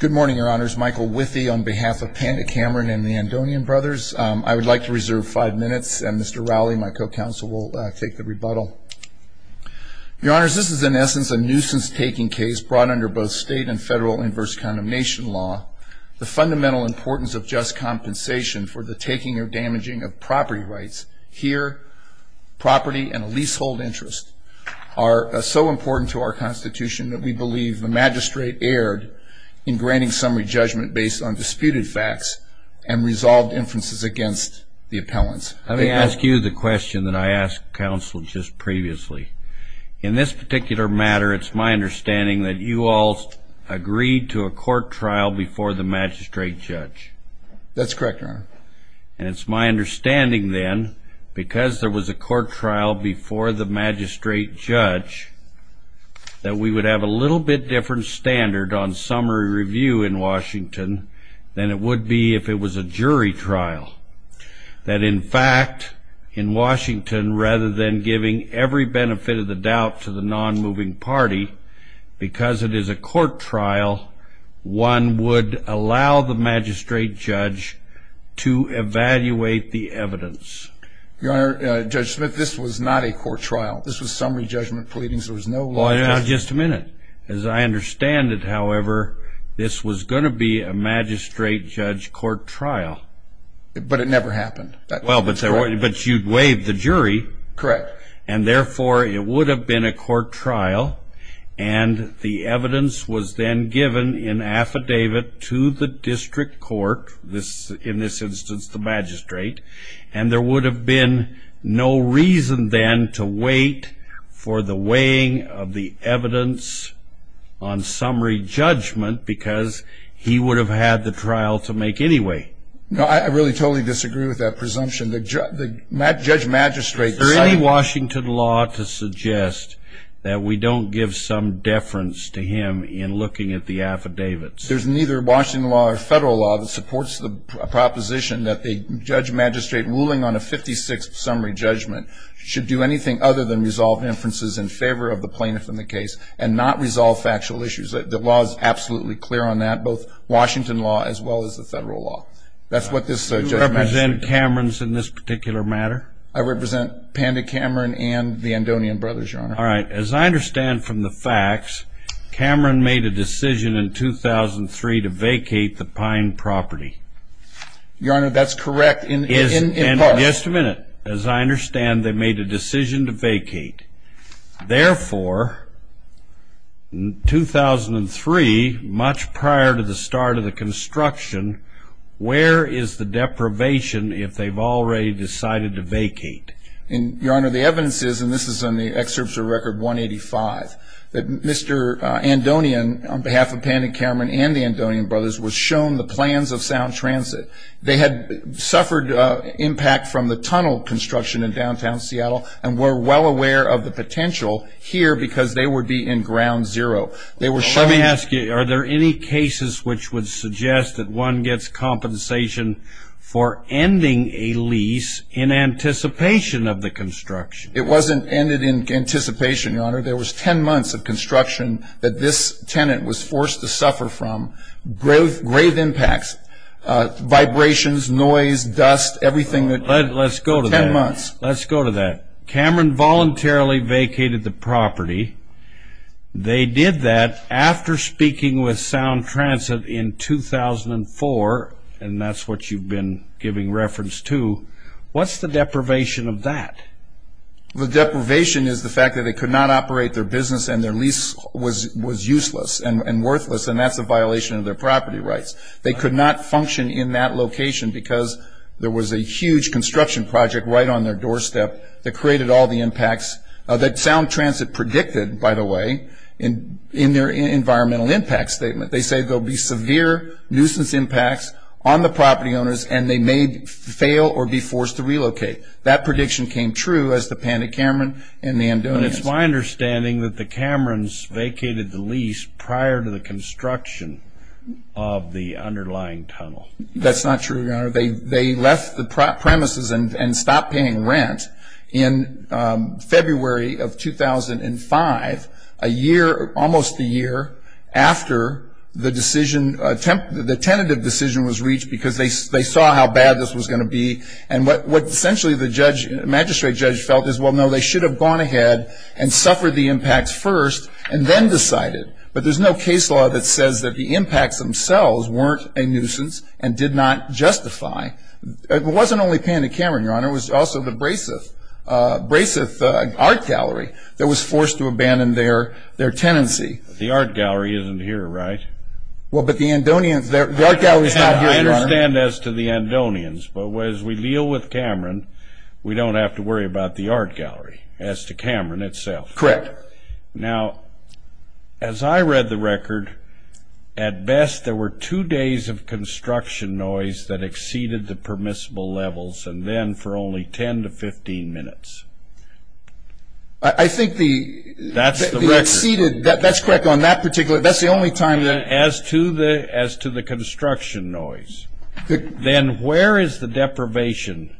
Good morning, Your Honors. Michael Withee on behalf of Pande Cameron and the Andonian Brothers. I would like to reserve five minutes, and Mr. Rowley, my co-counsel, will take the rebuttal. Your Honors, this is in essence a nuisance-taking case brought under both state and federal inverse condemnation law. The fundamental importance of just compensation for the taking or damaging of property rights here, property and a leasehold interest, are so important to our Constitution that we believe the magistrate erred in granting summary judgment based on disputed facts and resolved inferences against the appellants. Let me ask you the question that I asked counsel just previously. In this particular matter, it's my understanding that you all agreed to a court trial before the magistrate judge. That's correct, Your Honor. And it's my understanding then, because there was a court trial before the magistrate judge, that we would have a little bit different standard on summary review in Washington than it would be if it was a jury trial. That in fact, in Washington, rather than giving every benefit of the doubt to the non-moving party, because it is a court trial, one would allow the magistrate judge to evaluate the evidence. Your Honor, Judge Smith, this was not a court trial. This was summary judgment pleadings. There was no law. Just a minute. As I understand it, however, this was going to be a magistrate judge court trial. But it never happened. Well, but you'd waived the jury. Correct. And therefore, it would have been a court trial. And the evidence was then given in affidavit to the district court, in this instance the magistrate. And there would have been no reason then to wait for the weighing of the evidence on summary judgment, because he would have had the trial to make anyway. No, I really totally disagree with that presumption. The judge magistrate. Is there any Washington law to suggest that we don't give some deference to him in looking at the affidavits? There's neither Washington law or federal law that supports the proposition that the judge magistrate ruling on a 56th summary judgment should do anything other than resolve inferences in favor of the plaintiff in the case and not resolve factual issues. The law is absolutely clear on that, both Washington law as well as the federal law. That's what this judge magistrate. Do you represent Camerons in this particular matter? I represent Panda Cameron and the Andonian Brothers, Your Honor. All right. As I understand from the facts, Cameron made a decision in 2003 to vacate the Pine property. Your Honor, that's correct in part. Just a minute. As I understand, they made a decision to vacate. Therefore, in 2003, much prior to the start of the construction, where is the deprivation if they've already decided to vacate? Your Honor, the evidence is, and this is in the excerpts of Record 185, that Mr. Andonian, on behalf of Panda Cameron and the Andonian Brothers, was shown the plans of Sound Transit. They had suffered impact from the tunnel construction in downtown Seattle and were well aware of the potential here because they would be in ground zero. Let me ask you, are there any cases which would suggest that one gets compensation for ending a lease in anticipation of the construction? It wasn't ended in anticipation, Your Honor. There was 10 months of construction that this tenant was forced to suffer from, grave impacts, vibrations, noise, dust, everything. Let's go to that. Cameron voluntarily vacated the property. They did that after speaking with Sound Transit in 2004, and that's what you've been giving reference to. What's the deprivation of that? The deprivation is the fact that they could not operate their business and their lease was useless and worthless, and that's a violation of their property rights. They could not function in that location because there was a huge construction project right on their doorstep that created all the impacts that Sound Transit predicted, by the way, in their environmental impact statement. They say there will be severe nuisance impacts on the property owners and they may fail or be forced to relocate. That prediction came true as the Panic Cameron and the Andonians. It's my understanding that the Camerons vacated the lease prior to the construction of the underlying tunnel. That's not true, Your Honor. They left the premises and stopped paying rent in February of 2005, almost a year after the tentative decision was reached because they saw how bad this was going to be, and what essentially the magistrate judge felt is, well, no, they should have gone ahead and suffered the impacts first and then decided, but there's no case law that says that the impacts themselves weren't a nuisance and did not justify. It wasn't only Panic Cameron, Your Honor. It was also the Braceth Art Gallery that was forced to abandon their tenancy. The Art Gallery isn't here, right? Well, but the Andonians, the Art Gallery is not here, Your Honor. I understand as to the Andonians, but as we deal with Cameron, we don't have to worry about the Art Gallery as to Cameron itself. Correct. Now, as I read the record, at best there were two days of construction noise that exceeded the permissible levels, and then for only 10 to 15 minutes. I think the exceeded, that's correct, on that particular, that's the only time that. As to the construction noise. Then where is the deprivation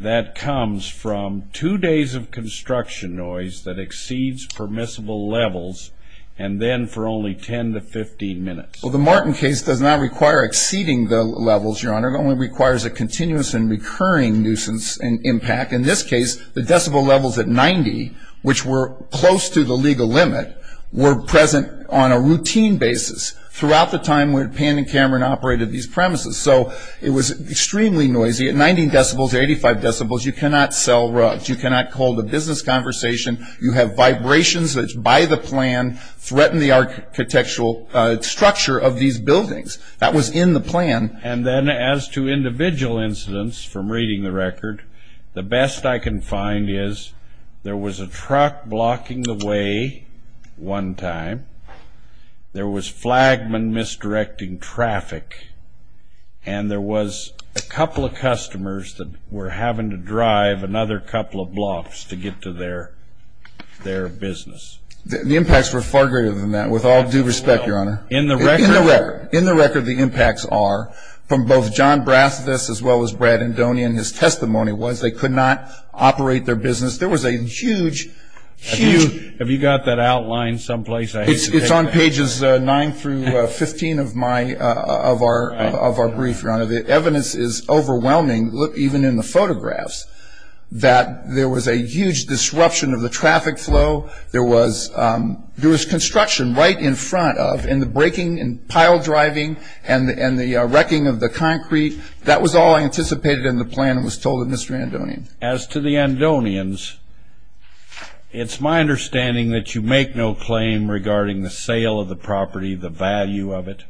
that comes from two days of construction noise that exceeds permissible levels and then for only 10 to 15 minutes? Well, the Martin case does not require exceeding the levels, Your Honor. It only requires a continuous and recurring nuisance and impact. In this case, the decibel levels at 90, which were close to the legal limit, were present on a routine basis throughout the time when Panic Cameron operated these premises. So it was extremely noisy. At 90 decibels, 85 decibels, you cannot sell rugs. You cannot hold a business conversation. You have vibrations that by the plan threaten the architectural structure of these buildings. That was in the plan. And then as to individual incidents from reading the record, the best I can find is there was a truck blocking the way one time. There was flagman misdirecting traffic, and there was a couple of customers that were having to drive another couple of blocks to get to their business. The impacts were far greater than that, with all due respect, Your Honor. In the record, the impacts are from both John Brasvis, as well as Brad Endonia, and his testimony was they could not operate their business. There was a huge, huge. Have you got that outline someplace? It's on pages 9 through 15 of our brief, Your Honor. The evidence is overwhelming, even in the photographs, that there was a huge disruption of the traffic flow. There was construction right in front of, in the breaking and pile driving and the wrecking of the concrete. That was all anticipated in the plan and was told to Mr. Endonia. As to the Endonians, it's my understanding that you make no claim regarding the sale of the property, the value of it?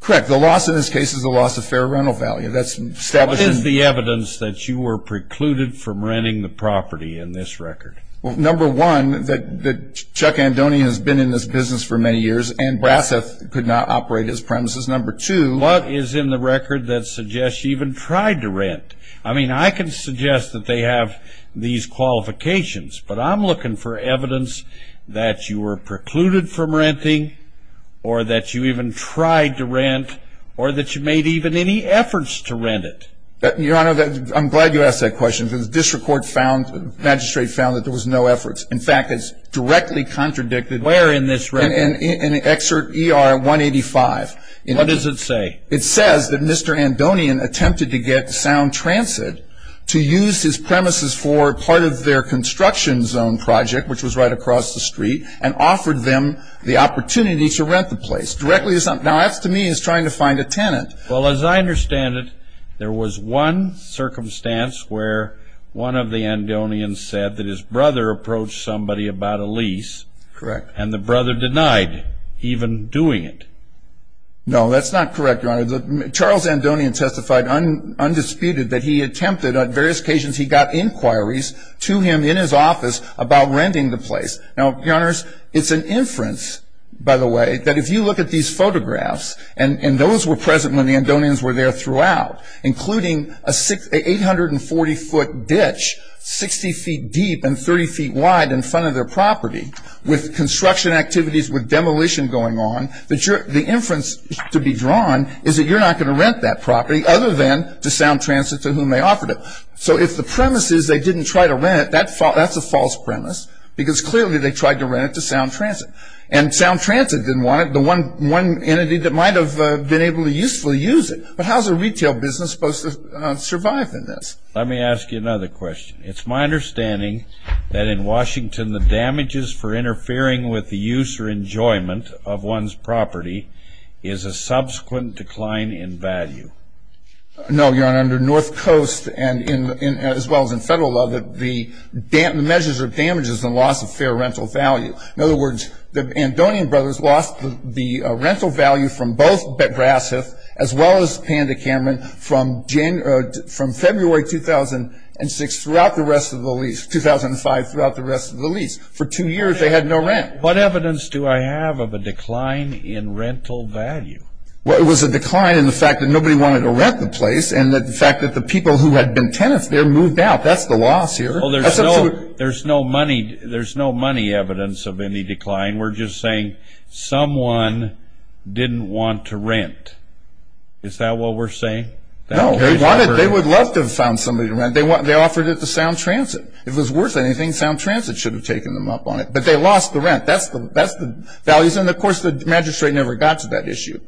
Correct. The loss in this case is the loss of fair rental value. That's established. What is the evidence that you were precluded from renting the property in this record? Well, number one, that Chuck Endonia has been in this business for many years and Brasvis could not operate his premises. Number two. What is in the record that suggests you even tried to rent? I mean, I can suggest that they have these qualifications, but I'm looking for evidence that you were precluded from renting or that you even tried to rent or that you made even any efforts to rent it. Your Honor, I'm glad you asked that question because the district magistrate found that there was no efforts. In fact, it's directly contradicted. Where in this record? In Excerpt ER 185. What does it say? It says that Mr. Endonian attempted to get Sound Transit to use his premises for part of their construction zone project, which was right across the street, and offered them the opportunity to rent the place. Now, that to me is trying to find a tenant. Well, as I understand it, there was one circumstance where one of the Endonians said that his brother approached somebody about a lease. Correct. And the brother denied even doing it. No, that's not correct, Your Honor. Charles Endonian testified undisputed that he attempted, on various occasions he got inquiries to him in his office about renting the place. Now, Your Honors, it's an inference, by the way, that if you look at these photographs, and those were present when the Endonians were there throughout, including a 840-foot ditch 60 feet deep and 30 feet wide in front of their property with construction activities with demolition going on, that the inference to be drawn is that you're not going to rent that property other than to Sound Transit to whom they offered it. So if the premise is they didn't try to rent it, that's a false premise, because clearly they tried to rent it to Sound Transit. And Sound Transit didn't want it, the one entity that might have been able to usefully use it. But how is a retail business supposed to survive in this? Let me ask you another question. It's my understanding that in Washington, the damages for interfering with the use or enjoyment of one's property is a subsequent decline in value. No, Your Honor. Under North Coast, as well as in federal law, the measures are damages and loss of fair rental value. In other words, the Endonian brothers lost the rental value from both Brasseth, as well as Panda Cameron, from February 2006 throughout the rest of the lease, for two years they had no rent. What evidence do I have of a decline in rental value? Well, it was a decline in the fact that nobody wanted to rent the place and the fact that the people who had been tenants there moved out. That's the loss here. There's no money evidence of any decline. We're just saying someone didn't want to rent. Is that what we're saying? No, they would love to have found somebody to rent. They offered it to Sound Transit. If it was worth anything, Sound Transit should have taken them up on it. But they lost the rent. That's the values. And, of course, the magistrate never got to that issue.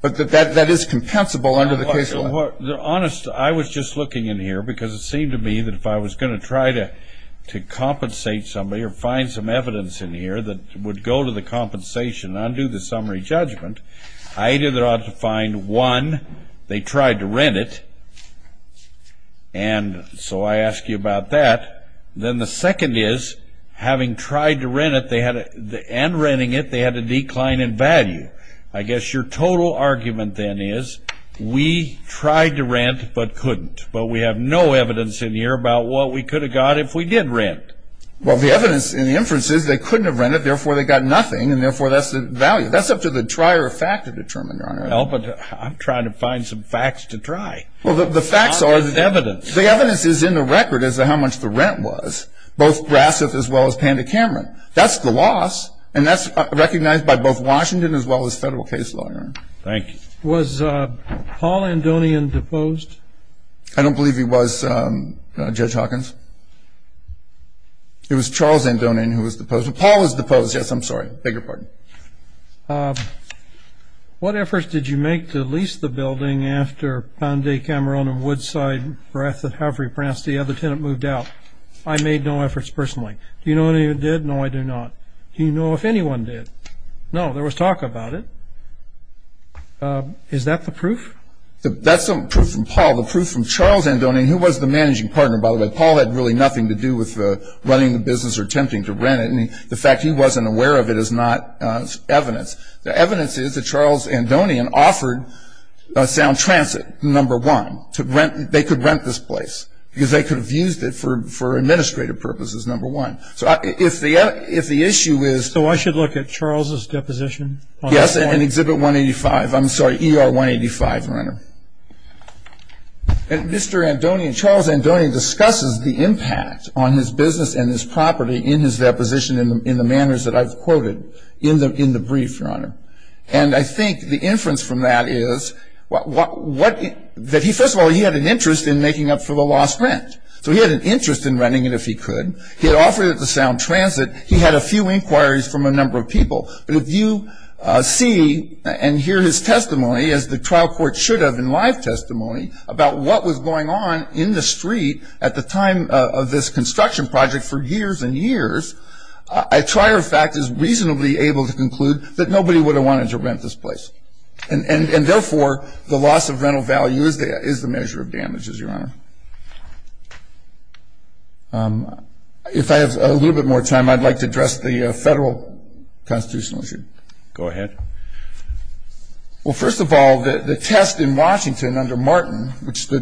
But that is compensable under the case law. Honest, I was just looking in here because it seemed to me that if I was going to try to compensate somebody or find some evidence in here that would go to the compensation and undo the summary judgment, I either ought to find, one, they tried to rent it, and so I ask you about that. Then the second is, having tried to rent it and renting it, they had a decline in value. I guess your total argument, then, is we tried to rent but couldn't. But we have no evidence in here about what we could have got if we did rent. Well, the evidence in the inference is they couldn't have rented, therefore, they got nothing, and, therefore, that's the value. That's up to the trier of fact to determine, Your Honor. Well, but I'm trying to find some facts to try. Well, the facts are the evidence. The evidence is in the record as to how much the rent was, both Brasseth as well as Panda Cameron. That's the loss, and that's recognized by both Washington as well as federal case law, Your Honor. Thank you. Was Paul Andonian deposed? I don't believe he was, Judge Hawkins. It was Charles Andonian who was deposed. Paul was deposed. Yes, I'm sorry. Beg your pardon. What efforts did you make to lease the building after Panda Cameron and Woodside Brasseth have repressed the other tenant moved out? I made no efforts personally. Do you know anyone who did? No, I do not. Do you know if anyone did? No. There was talk about it. Is that the proof? That's the proof from Paul. The proof from Charles Andonian, who was the managing partner, by the way. Paul had really nothing to do with running the business or attempting to rent it, and the fact he wasn't aware of it is not evidence. The evidence is that Charles Andonian offered Sound Transit, number one. They could rent this place because they could have used it for administrative purposes, number one. So if the issue is ---- So I should look at Charles' deposition? Yes, in Exhibit 185. I'm sorry, ER 185, Your Honor. Mr. Andonian, Charles Andonian discusses the impact on his business and his property in his deposition in the manners that I've quoted in the brief, Your Honor. And I think the inference from that is that, first of all, he had an interest in making up for the lost rent. So he had an interest in renting it if he could. He had offered it to Sound Transit. He had a few inquiries from a number of people. But if you see and hear his testimony, as the trial court should have in live testimony, about what was going on in the street at the time of this construction project for years and years, a trier of fact is reasonably able to conclude that nobody would have wanted to rent this place. And therefore, the loss of rental value is the measure of damages, Your Honor. If I have a little bit more time, I'd like to address the federal constitutional issue. Go ahead. Well, first of all, the test in Washington under Martin, which the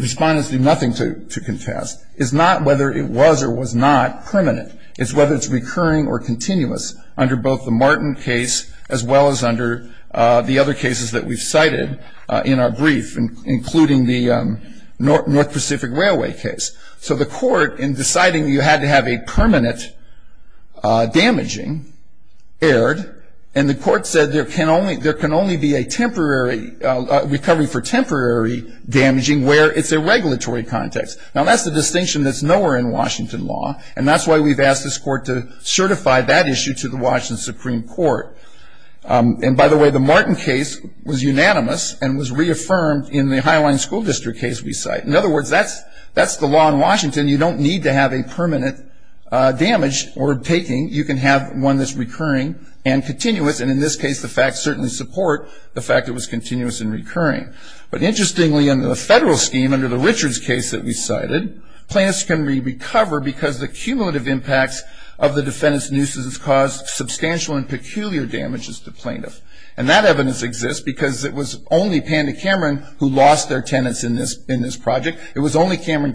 respondents did nothing to contest, is not whether it was or was not permanent. It's whether it's recurring or continuous under both the Martin case as well as under the other cases that we've cited in our brief, including the North Pacific Railway case. So the court, in deciding you had to have a permanent damaging, erred, and the court said there can only be a recovery for temporary damaging where it's a regulatory context. Now, that's the distinction that's nowhere in Washington law, and that's why we've asked this court to certify that issue to the Washington Supreme Court. And by the way, the Martin case was unanimous and was reaffirmed in the Highline School District case we cite. In other words, that's the law in Washington. You don't need to have a permanent damage or taking. You can have one that's recurring and continuous, and in this case the facts certainly support the fact it was continuous and recurring. But interestingly, under the federal scheme, under the Richards case that we cited, plaintiffs can recover because the cumulative impacts of the defendant's nuisance caused substantial and peculiar damages to plaintiffs. And that evidence exists because it was only Panda Cameron who lost their tenants in this project. It was only Cameron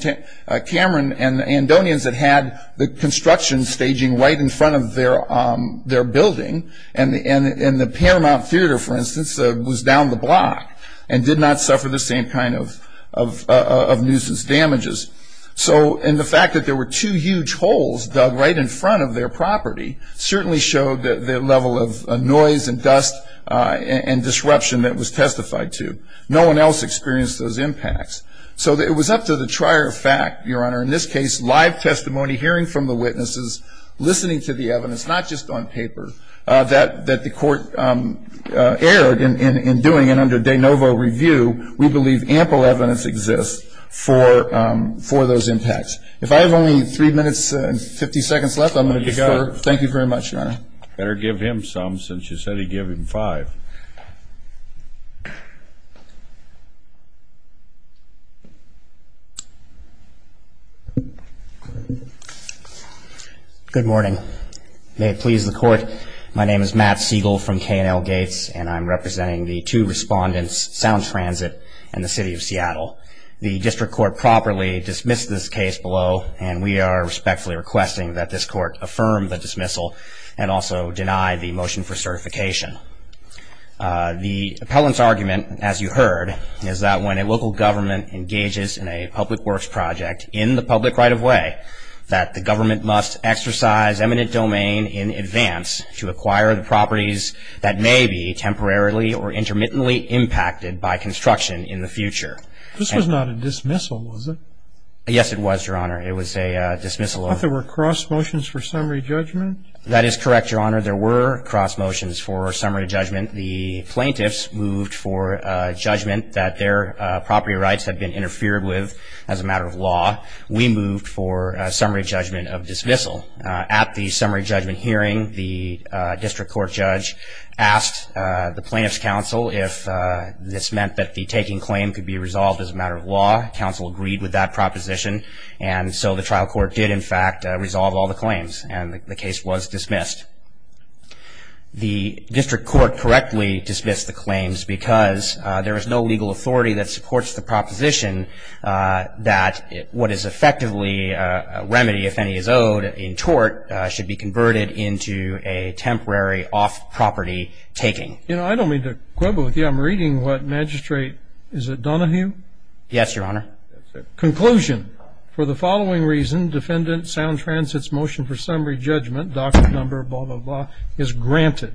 and Andonians that had the construction staging right in front of their building, and the Paramount Theater, for instance, was down the block and did not suffer the same kind of nuisance damages. And the fact that there were two huge holes dug right in front of their property certainly showed the level of noise and dust and disruption that was testified to. No one else experienced those impacts. So it was up to the trier of fact, Your Honor, in this case, live testimony, hearing from the witnesses, listening to the evidence, not just on paper, that the court erred in doing, and under de novo review, we believe ample evidence exists for those impacts. If I have only 3 minutes and 50 seconds left, I'm going to defer. Thank you very much, Your Honor. Better give him some since you said he'd give him 5. Good morning. May it please the court, my name is Matt Siegel from K&L Gates, and I'm representing the two respondents, Sound Transit and the City of Seattle. The district court properly dismissed this case below, and we are respectfully requesting that this court affirm the dismissal and also deny the motion for certification. The appellant's argument, as you heard, is that when a local government engages in a public works project in the public right-of-way, that the government must exercise eminent domain in advance to acquire the properties that may be temporarily or intermittently impacted by construction in the future. This was not a dismissal, was it? Yes, it was, Your Honor. It was a dismissal of- But there were cross motions for summary judgment? That is correct, Your Honor. There were cross motions for summary judgment. The plaintiffs moved for judgment that their property rights had been interfered with as a matter of law. We moved for summary judgment of dismissal. At the summary judgment hearing, the district court judge asked the plaintiff's counsel if this meant that the taking claim could be resolved as a matter of law. Counsel agreed with that proposition, and so the trial court did, in fact, resolve all the claims, and the case was dismissed. The district court correctly dismissed the claims because there is no legal authority that supports the proposition that what is effectively a remedy, if any, is owed in tort, should be converted into a temporary off-property taking. You know, I don't mean to quibble with you. I'm reading what magistrate- Is it Donahue? Yes, Your Honor. Conclusion. For the following reason, defendant Sound Transit's motion for summary judgment, docket number blah, blah, blah, is granted.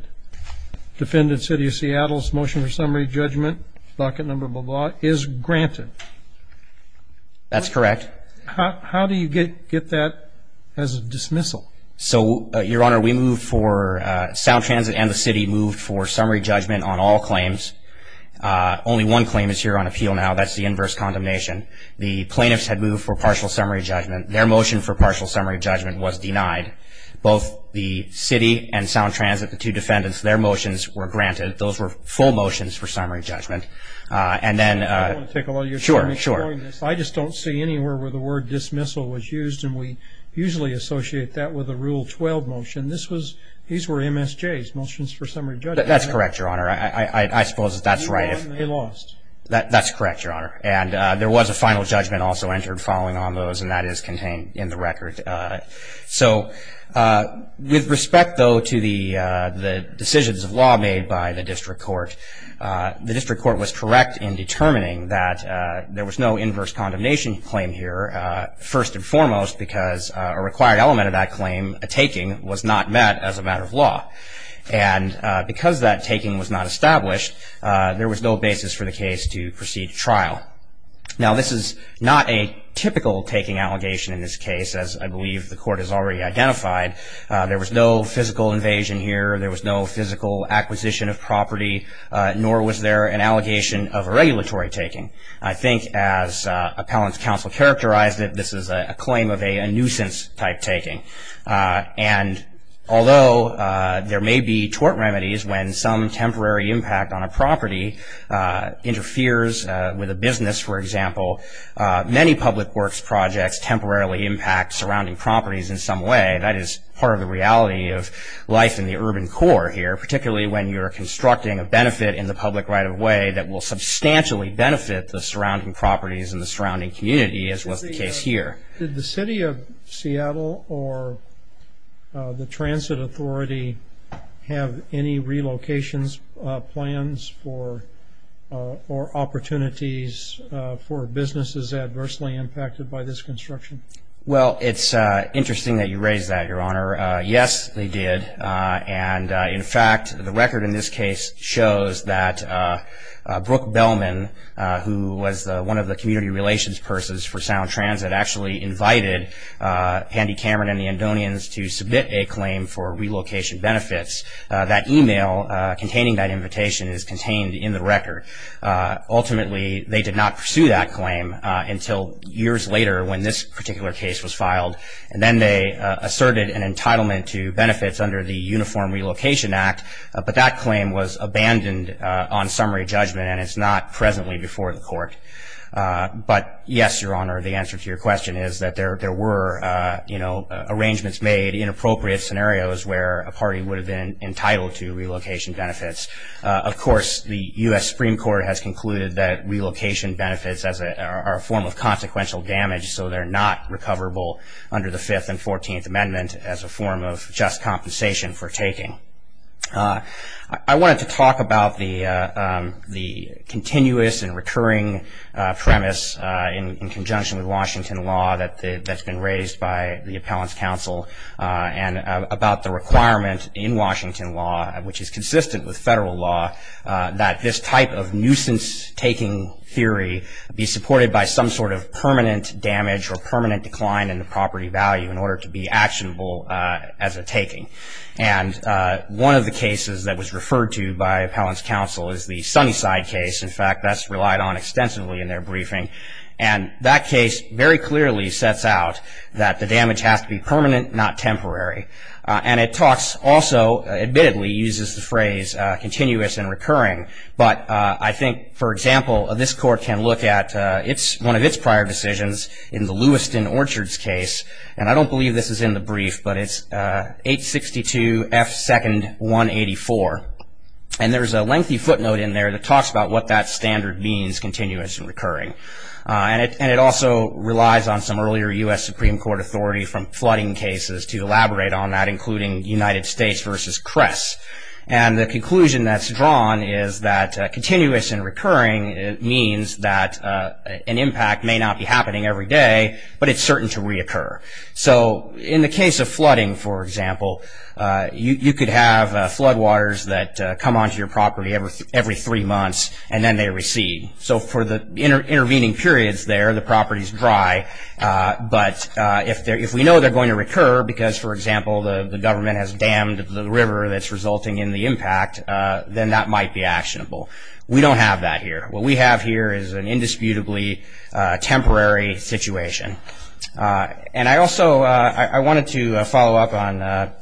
Defendant City of Seattle's motion for summary judgment, docket number blah, blah, blah, is granted. That's correct. How do you get that as a dismissal? So, Your Honor, we moved for- Sound Transit and the city moved for summary judgment on all claims. Only one claim is here on appeal now. That's the inverse condemnation. The plaintiffs had moved for partial summary judgment. Their motion for partial summary judgment was denied. Both the city and Sound Transit, the two defendants, their motions were granted. Those were full motions for summary judgment. And then- I want to take a look. Sure, sure. I just don't see anywhere where the word dismissal was used, and we usually associate that with a Rule 12 motion. These were MSJ's, motions for summary judgment. That's correct, Your Honor. I suppose that that's right if- They lost. That's correct, Your Honor. And there was a final judgment also entered following on those, and that is contained in the record. So, with respect, though, to the decisions of law made by the district court, the district court was correct in determining that there was no inverse condemnation claim here, first and foremost because a required element of that claim, a taking, was not met as a matter of law. And because that taking was not established, there was no basis for the case to proceed to trial. Now, this is not a typical taking allegation in this case, as I believe the court has already identified. There was no physical invasion here. There was no physical acquisition of property, nor was there an allegation of a regulatory taking. I think as appellant's counsel characterized it, this is a claim of a nuisance-type taking. And although there may be tort remedies when some temporary impact on a property interferes with a business, for example, many public works projects temporarily impact surrounding properties in some way. That is part of the reality of life in the urban core here, particularly when you're constructing a benefit in the public right-of-way that will substantially benefit the surrounding properties and the surrounding community, as was the case here. Did the City of Seattle or the Transit Authority have any relocations plans or opportunities for businesses adversely impacted by this construction? Well, it's interesting that you raise that, Your Honor. Yes, they did. And, in fact, the record in this case shows that Brooke Bellman, who was one of the community relations persons for Sound Transit, actually invited Handy Cameron and the Andonians to submit a claim for relocation benefits. That email containing that invitation is contained in the record. Ultimately, they did not pursue that claim until years later when this particular case was filed. And then they asserted an entitlement to benefits under the Uniform Relocation Act, but that claim was abandoned on summary judgment, and it's not presently before the court. But, yes, Your Honor, the answer to your question is that there were, you know, arrangements made, inappropriate scenarios where a party would have been entitled to relocation benefits. Of course, the U.S. Supreme Court has concluded that relocation benefits are a form of consequential damage, so they're not recoverable under the Fifth and Fourteenth Amendment as a form of just compensation for taking. I wanted to talk about the continuous and recurring premise in conjunction with Washington law that's been raised by the Appellant's Counsel and about the requirement in Washington law, which is consistent with federal law, that this type of nuisance-taking theory be supported by some sort of permanent damage or permanent decline in the property value in order to be actionable as a taking. And one of the cases that was referred to by Appellant's Counsel is the Sunnyside case. In fact, that's relied on extensively in their briefing. And that case very clearly sets out that the damage has to be permanent, not temporary. And it talks also, admittedly, uses the phrase continuous and recurring. But I think, for example, this Court can look at one of its prior decisions in the Lewiston Orchards case. And I don't believe this is in the brief, but it's 862 F. 2nd. 184. And there's a lengthy footnote in there that talks about what that standard means, continuous and recurring. And it also relies on some earlier U.S. Supreme Court authority from flooding cases to elaborate on that, including United States v. Kress. And the conclusion that's drawn is that continuous and recurring means that an impact may not be happening every day, but it's certain to reoccur. So in the case of flooding, for example, you could have floodwaters that come onto your property every three months, and then they recede. So for the intervening periods there, the property's dry. But if we know they're going to recur because, for example, the government has dammed the river that's resulting in the impact, then that might be actionable. We don't have that here. What we have here is an indisputably temporary situation. And I also wanted to follow up on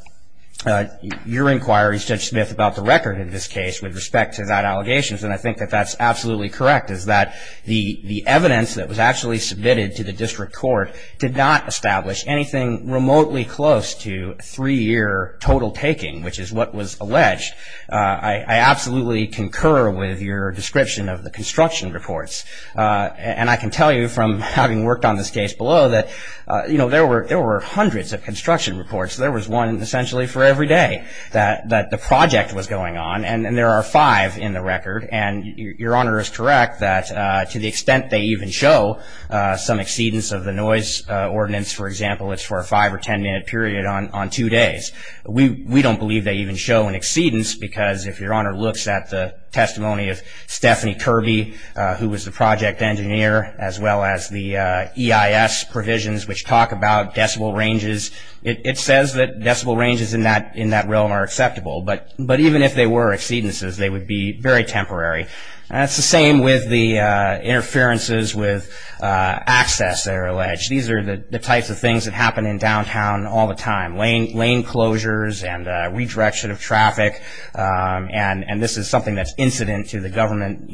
your inquiry, Judge Smith, about the record in this case with respect to that allegation. And I think that that's absolutely correct, is that the evidence that was actually submitted to the district court did not establish anything remotely close to three-year total taking, which is what was alleged. I absolutely concur with your description of the construction reports. And I can tell you from having worked on this case below that there were hundreds of construction reports. There was one essentially for every day that the project was going on. And there are five in the record. And Your Honor is correct that to the extent they even show some exceedance of the noise ordinance, for example, it's for a five- or ten-minute period on two days. We don't believe they even show an exceedance because if Your Honor looks at the testimony of Stephanie Kirby, who was the project engineer, as well as the EIS provisions which talk about decibel ranges, it says that decibel ranges in that realm are acceptable. But even if they were exceedances, they would be very temporary. And it's the same with the interferences with access that are alleged. These are the types of things that happen in downtown all the time, lane closures and redirection of traffic. And this is something that's incident to the government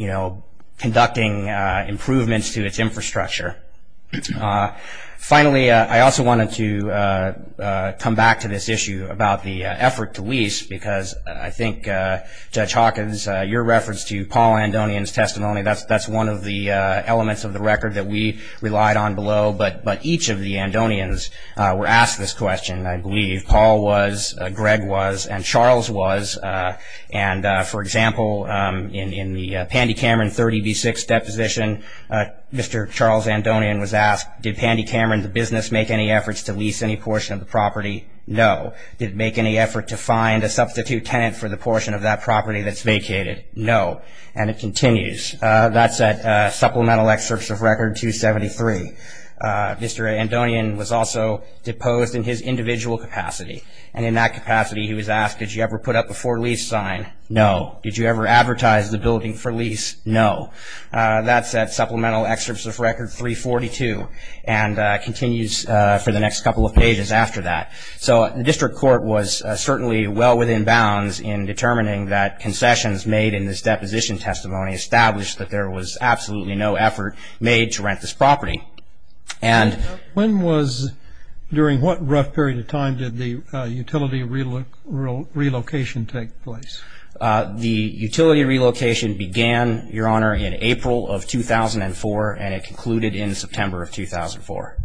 conducting improvements to its infrastructure. Finally, I also wanted to come back to this issue about the effort to lease because I think Judge Hawkins, your reference to Paul Andonian's testimony, that's one of the elements of the record that we relied on below. But each of the Andonians were asked this question, I believe. Paul was, Greg was, and Charles was. And for example, in the Pandy Cameron 30B6 deposition, Mr. Charles Andonian was asked, did Pandy Cameron, the business, make any efforts to lease any portion of the property? No. Did it make any effort to find a substitute tenant for the portion of that property that's vacated? No. And it continues. That's at Supplemental Excerpts of Record 273. Mr. Andonian was also deposed in his individual capacity. And in that capacity, he was asked, did you ever put up a for lease sign? No. Did you ever advertise the building for lease? No. That's at Supplemental Excerpts of Record 342 and continues for the next couple of pages after that. So the district court was certainly well within bounds in determining that concessions made in this deposition testimony established that there was absolutely no effort made to rent this property. During what rough period of time did the utility relocation take place? The utility relocation began, Your Honor, in April of 2004, and it concluded in September of 2004.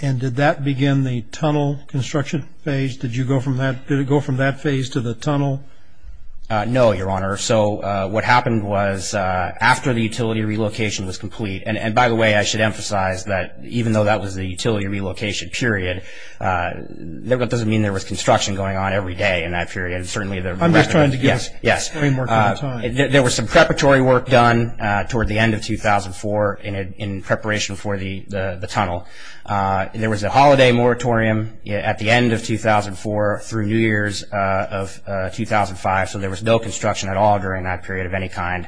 And did that begin the tunnel construction phase? Did it go from that phase to the tunnel? No, Your Honor. So what happened was after the utility relocation was complete and, by the way, I should emphasize that even though that was the utility relocation period, that doesn't mean there was construction going on every day in that period. I'm just trying to give a framework on time. There was some preparatory work done toward the end of 2004 in preparation for the tunnel. There was a holiday moratorium at the end of 2004 through New Year's of 2005, so there was no construction at all during that period of any kind. And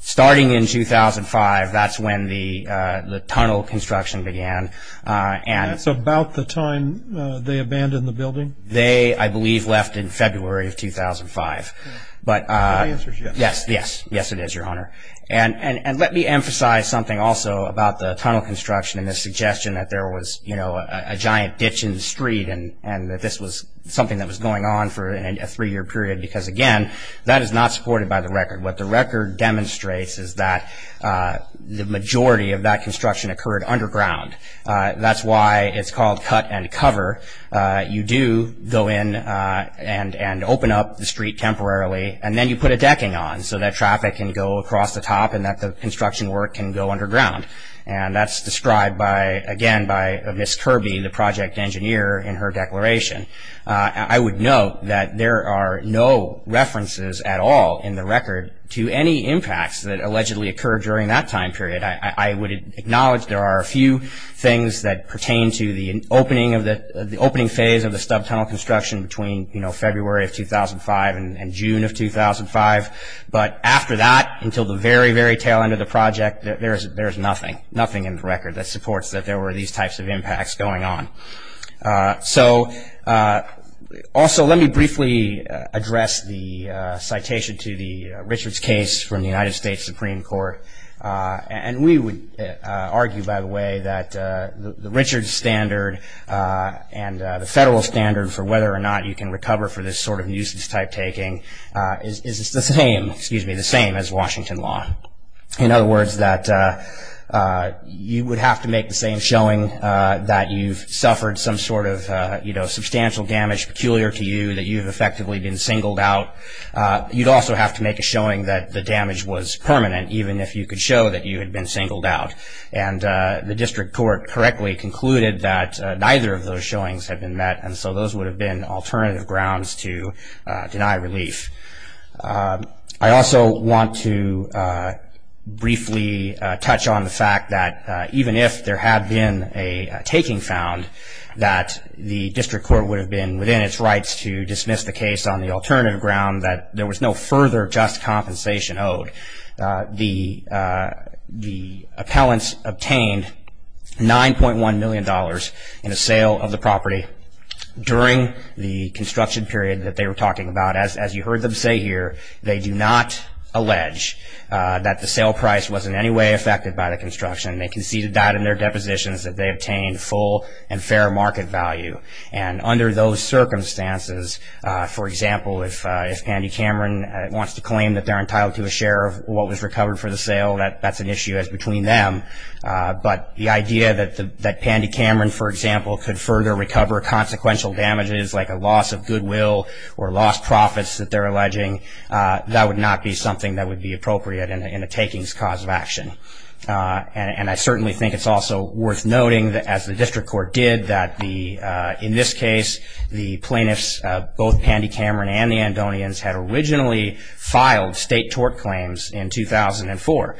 starting in 2005, that's when the tunnel construction began. That's about the time they abandoned the building? They, I believe, left in February of 2005. My answer is yes. Yes, it is, Your Honor. And let me emphasize something also about the tunnel construction and the suggestion that there was a giant ditch in the street and that this was something that was going on for a three-year period, because, again, that is not supported by the record. What the record demonstrates is that the majority of that construction occurred underground. That's why it's called cut and cover. You do go in and open up the street temporarily, and then you put a decking on so that traffic can go across the top and that the construction work can go underground. And that's described, again, by Ms. Kirby, the project engineer, in her declaration. I would note that there are no references at all in the record to any impacts that allegedly occurred during that time period. I would acknowledge there are a few things that pertain to the opening phase of the stub tunnel construction between, you know, February of 2005 and June of 2005. But after that, until the very, very tail end of the project, there's nothing, nothing in the record that supports that there were these types of impacts going on. So also let me briefly address the citation to the Richards case from the United States Supreme Court. And we would argue, by the way, that the Richards standard and the federal standard for whether or not you can recover for this sort of nuisance type taking is the same, excuse me, the same as Washington law. In other words, that you would have to make the same showing that you've suffered some sort of, you know, substantial damage peculiar to you, that you've effectively been singled out. You'd also have to make a showing that the damage was permanent, even if you could show that you had been singled out. And the district court correctly concluded that neither of those showings had been met, and so those would have been alternative grounds to deny relief. I also want to briefly touch on the fact that even if there had been a taking found, that the district court would have been within its rights to dismiss the case on the alternative ground that there was no further just compensation owed. The appellants obtained $9.1 million in the sale of the property during the construction period that they were talking about. As you heard them say here, they do not allege that the sale price was in any way affected by the construction. They conceded that in their depositions that they obtained full and fair market value. And under those circumstances, for example, if Pandy Cameron wants to claim that they're entitled to a share of what was recovered for the sale, that's an issue as between them. But the idea that Pandy Cameron, for example, could further recover consequential damages like a loss of goodwill or lost profits that they're alleging, that would not be something that would be appropriate in a takings cause of action. And I certainly think it's also worth noting, as the district court did, that in this case the plaintiffs, both Pandy Cameron and the Andonians, had originally filed state tort claims in 2004,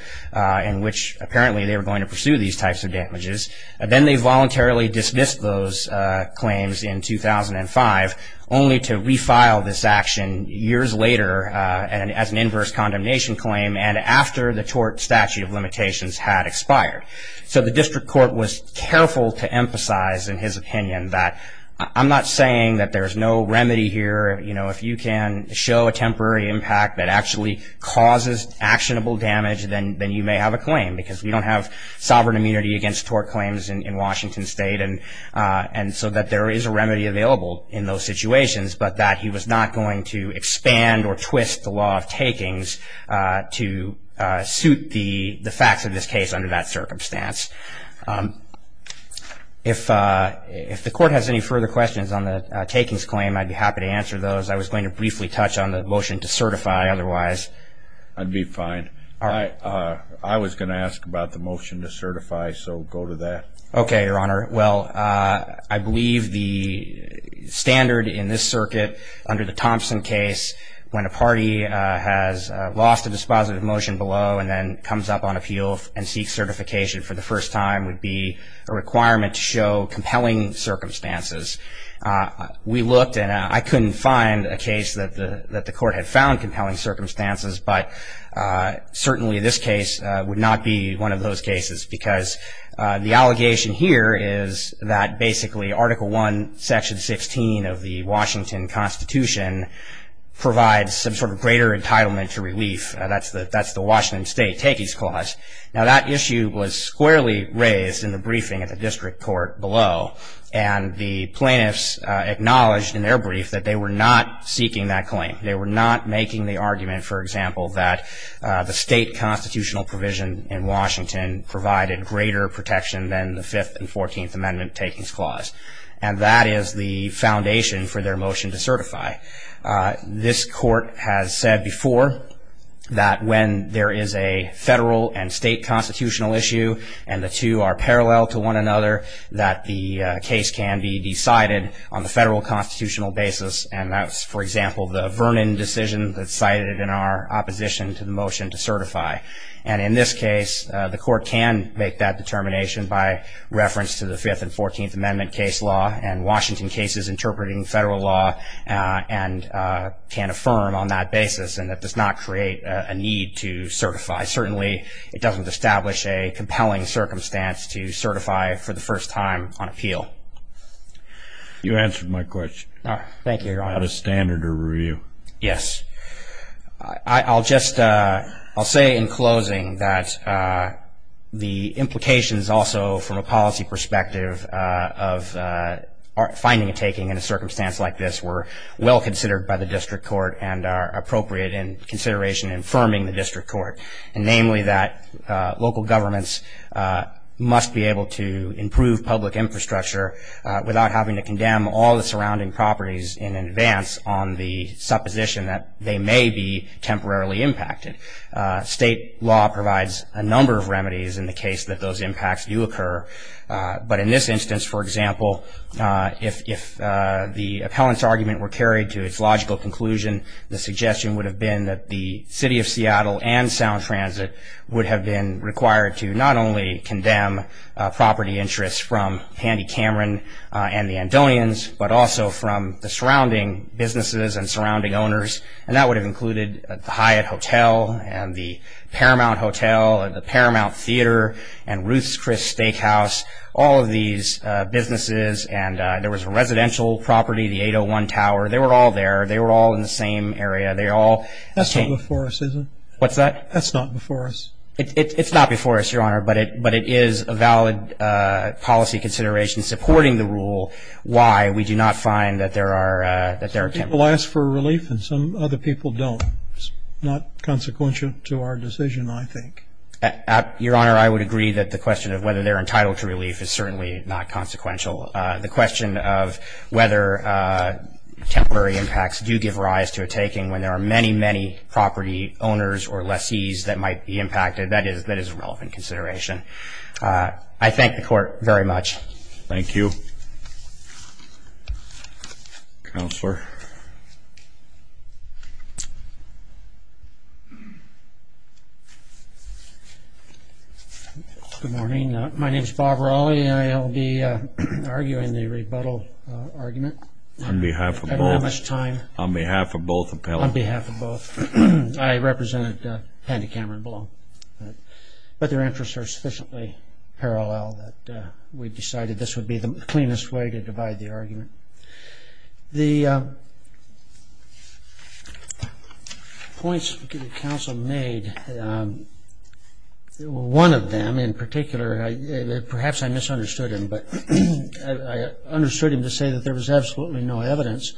in which apparently they were going to pursue these types of damages. Then they voluntarily dismissed those claims in 2005, only to refile this action years later as an inverse condemnation claim, and after the tort statute of limitations had expired. So the district court was careful to emphasize in his opinion that I'm not saying that there's no remedy here. If you can show a temporary impact that actually causes actionable damage, then you may have a claim. Because we don't have sovereign immunity against tort claims in Washington State, and so that there is a remedy available in those situations, but that he was not going to expand or twist the law of takings to suit the facts of this case under that circumstance. If the court has any further questions on the takings claim, I'd be happy to answer those. I was going to briefly touch on the motion to certify, otherwise I'd be fine. I was going to ask about the motion to certify, so go to that. Okay, Your Honor. Well, I believe the standard in this circuit under the Thompson case, when a party has lost a dispositive motion below and then comes up on appeal and seeks certification for the first time, would be a requirement to show compelling circumstances. We looked, and I couldn't find a case that the court had found compelling circumstances, but certainly this case would not be one of those cases, because the allegation here is that basically Article I, Section 16 of the Washington Constitution provides some sort of greater entitlement to relief. That's the Washington State Takings Clause. Now, that issue was squarely raised in the briefing at the district court below, and the plaintiffs acknowledged in their brief that they were not seeking that claim. They were not making the argument, for example, that the state constitutional provision in Washington provided greater protection than the Fifth and Fourteenth Amendment Takings Clause, and that is the foundation for their motion to certify. This court has said before that when there is a federal and state constitutional issue and the two are parallel to one another, that the case can be decided on the federal constitutional basis, and that's, for example, the Vernon decision that's cited in our opposition to the motion to certify. And in this case, the court can make that determination by reference to the Fifth and Fourteenth Amendment case law and Washington cases interpreting federal law and can affirm on that basis, and that does not create a need to certify. Certainly it doesn't establish a compelling circumstance to certify for the first time on appeal. You answered my question. Thank you, Your Honor. Out of standard or review. Yes. I'll just say in closing that the implications also from a policy perspective of finding a taking in a circumstance like this were well considered by the district court and are appropriate in consideration in affirming the district court, and namely that local governments must be able to improve public infrastructure without having to condemn all the surrounding properties in advance on the supposition that they may be temporarily impacted. State law provides a number of remedies in the case that those impacts do occur, but in this instance, for example, if the appellant's argument were carried to its logical conclusion, the suggestion would have been that the City of Seattle and Sound Transit would have been required to not only condemn property interests from Handy Cameron and the Andonians, but also from the surrounding businesses and surrounding owners, and that would have included the Hyatt Hotel and the Paramount Hotel and the Paramount Theater and Ruth's Chris Steakhouse, all of these businesses, and there was a residential property, the 801 Tower. They were all there. They were all in the same area. They all changed. That's not before us, is it? What's that? That's not before us. It's not before us, Your Honor, but it is a valid policy consideration supporting the rule why we do not find that there are temporary impacts. Some people ask for relief and some other people don't. It's not consequential to our decision, I think. Your Honor, I would agree that the question of whether they're entitled to relief is certainly not consequential. The question of whether temporary impacts do give rise to a taking when there are many, many property owners or lessees that might be impacted, that is a relevant consideration. I thank the Court very much. Thank you. Counselor? Good morning. My name is Bob Raleigh. I will be arguing the rebuttal argument. On behalf of both? I don't have much time. On behalf of both appellants? On behalf of both. I represented Hannah Cameron below, but their interests are sufficiently parallel that we decided this would be the cleanest way to divide the argument. The points the counsel made, one of them in particular, perhaps I misunderstood him, but I understood him to say that there was absolutely no evidence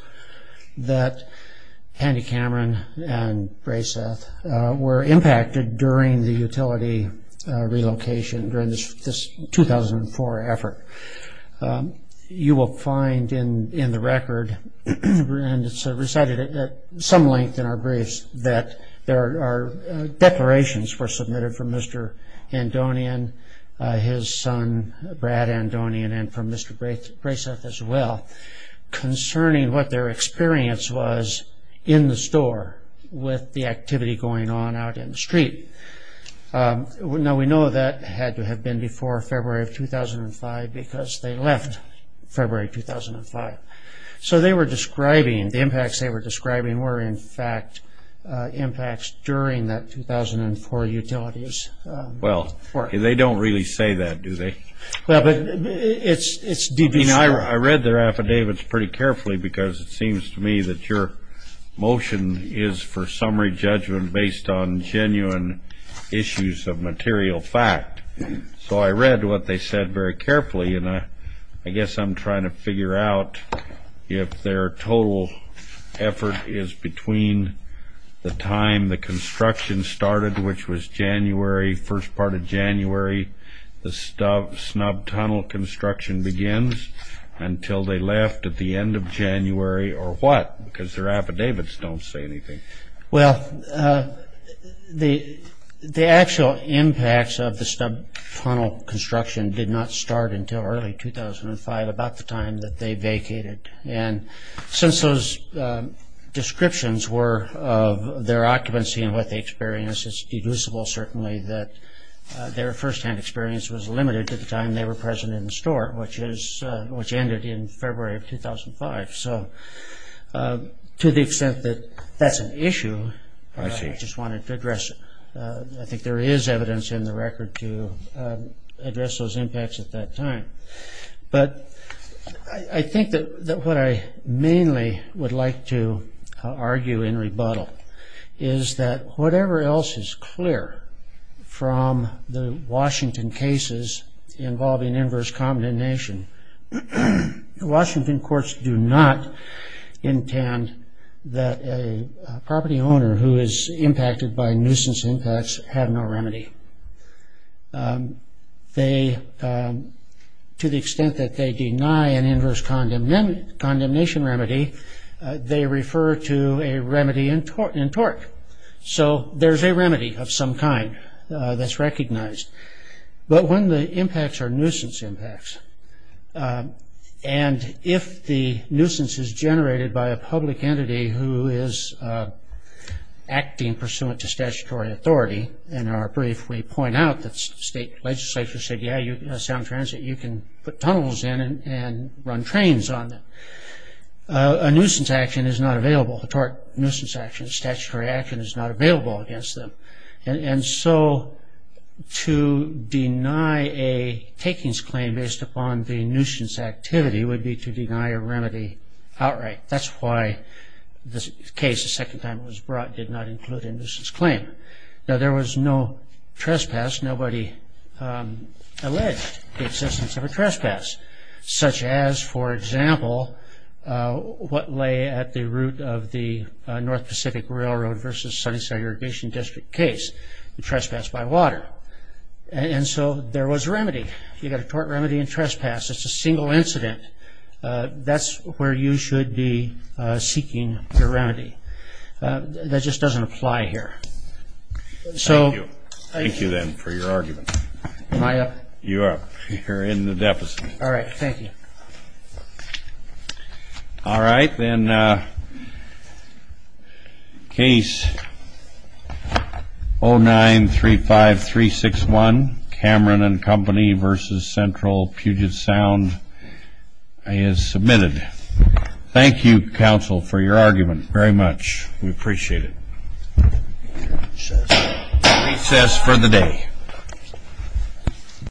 that Hannah Cameron and Braiseth were impacted during the utility relocation during this 2004 effort. You will find in the record, and it's recited at some length in our briefs, that there are declarations were submitted from Mr. Andonian, his son Brad Andonian, and from Mr. Braiseth as well concerning what their experience was in the store with the activity going on out in the street. Now, we know that had to have been before February of 2005, because they left February 2005. So they were describing, the impacts they were describing were, in fact, impacts during that 2004 utilities. Well, they don't really say that, do they? Well, but it's deep. I read their affidavits pretty carefully, because it seems to me that your motion is for summary judgment based on genuine issues of material fact. So I read what they said very carefully, and I guess I'm trying to figure out if their total effort is between the time the construction started, which was January, first part of January, the snub tunnel construction begins, until they left at the end of January, or what? Because their affidavits don't say anything. Well, the actual impacts of the snub tunnel construction did not start until early 2005, about the time that they vacated. And since those descriptions were of their occupancy and what they experienced, it's deducible, certainly, that their firsthand experience was limited to the time they were present in the store, which ended in February of 2005. So to the extent that that's an issue, I just wanted to address it. I think there is evidence in the record to address those impacts at that time. But I think that what I mainly would like to argue in rebuttal is that whatever else is clear from the Washington cases involving inverse condemnation, the Washington courts do not intend that a property owner who is impacted by nuisance impacts have no remedy. To the extent that they deny an inverse condemnation remedy, they refer to a remedy in tort. So there's a remedy of some kind that's recognized. But when the impacts are nuisance impacts, and if the nuisance is generated by a public entity who is acting pursuant to statutory authority, in our brief we point out that state legislature said, yeah, you can put tunnels in and run trains on them. A nuisance action is not available. A tort nuisance action, a statutory action is not available against them. And so to deny a takings claim based upon the nuisance activity would be to deny a remedy outright. That's why this case, the second time it was brought, did not include a nuisance claim. Now, there was no trespass. Nobody alleged the existence of a trespass, such as, for example, what lay at the route of the North Pacific Railroad versus Sunnyside Irrigation District case, the trespass by water. And so there was a remedy. You've got a tort remedy and trespass. It's a single incident. That's where you should be seeking your remedy. That just doesn't apply here. Thank you, then, for your argument. Am I up? You're up. You're in the deficit. All right. Thank you. All right. Then case 0935361, Cameron and Company versus Central Puget Sound is submitted. Thank you, counsel, for your argument. Very much. We appreciate it. Recess for the day.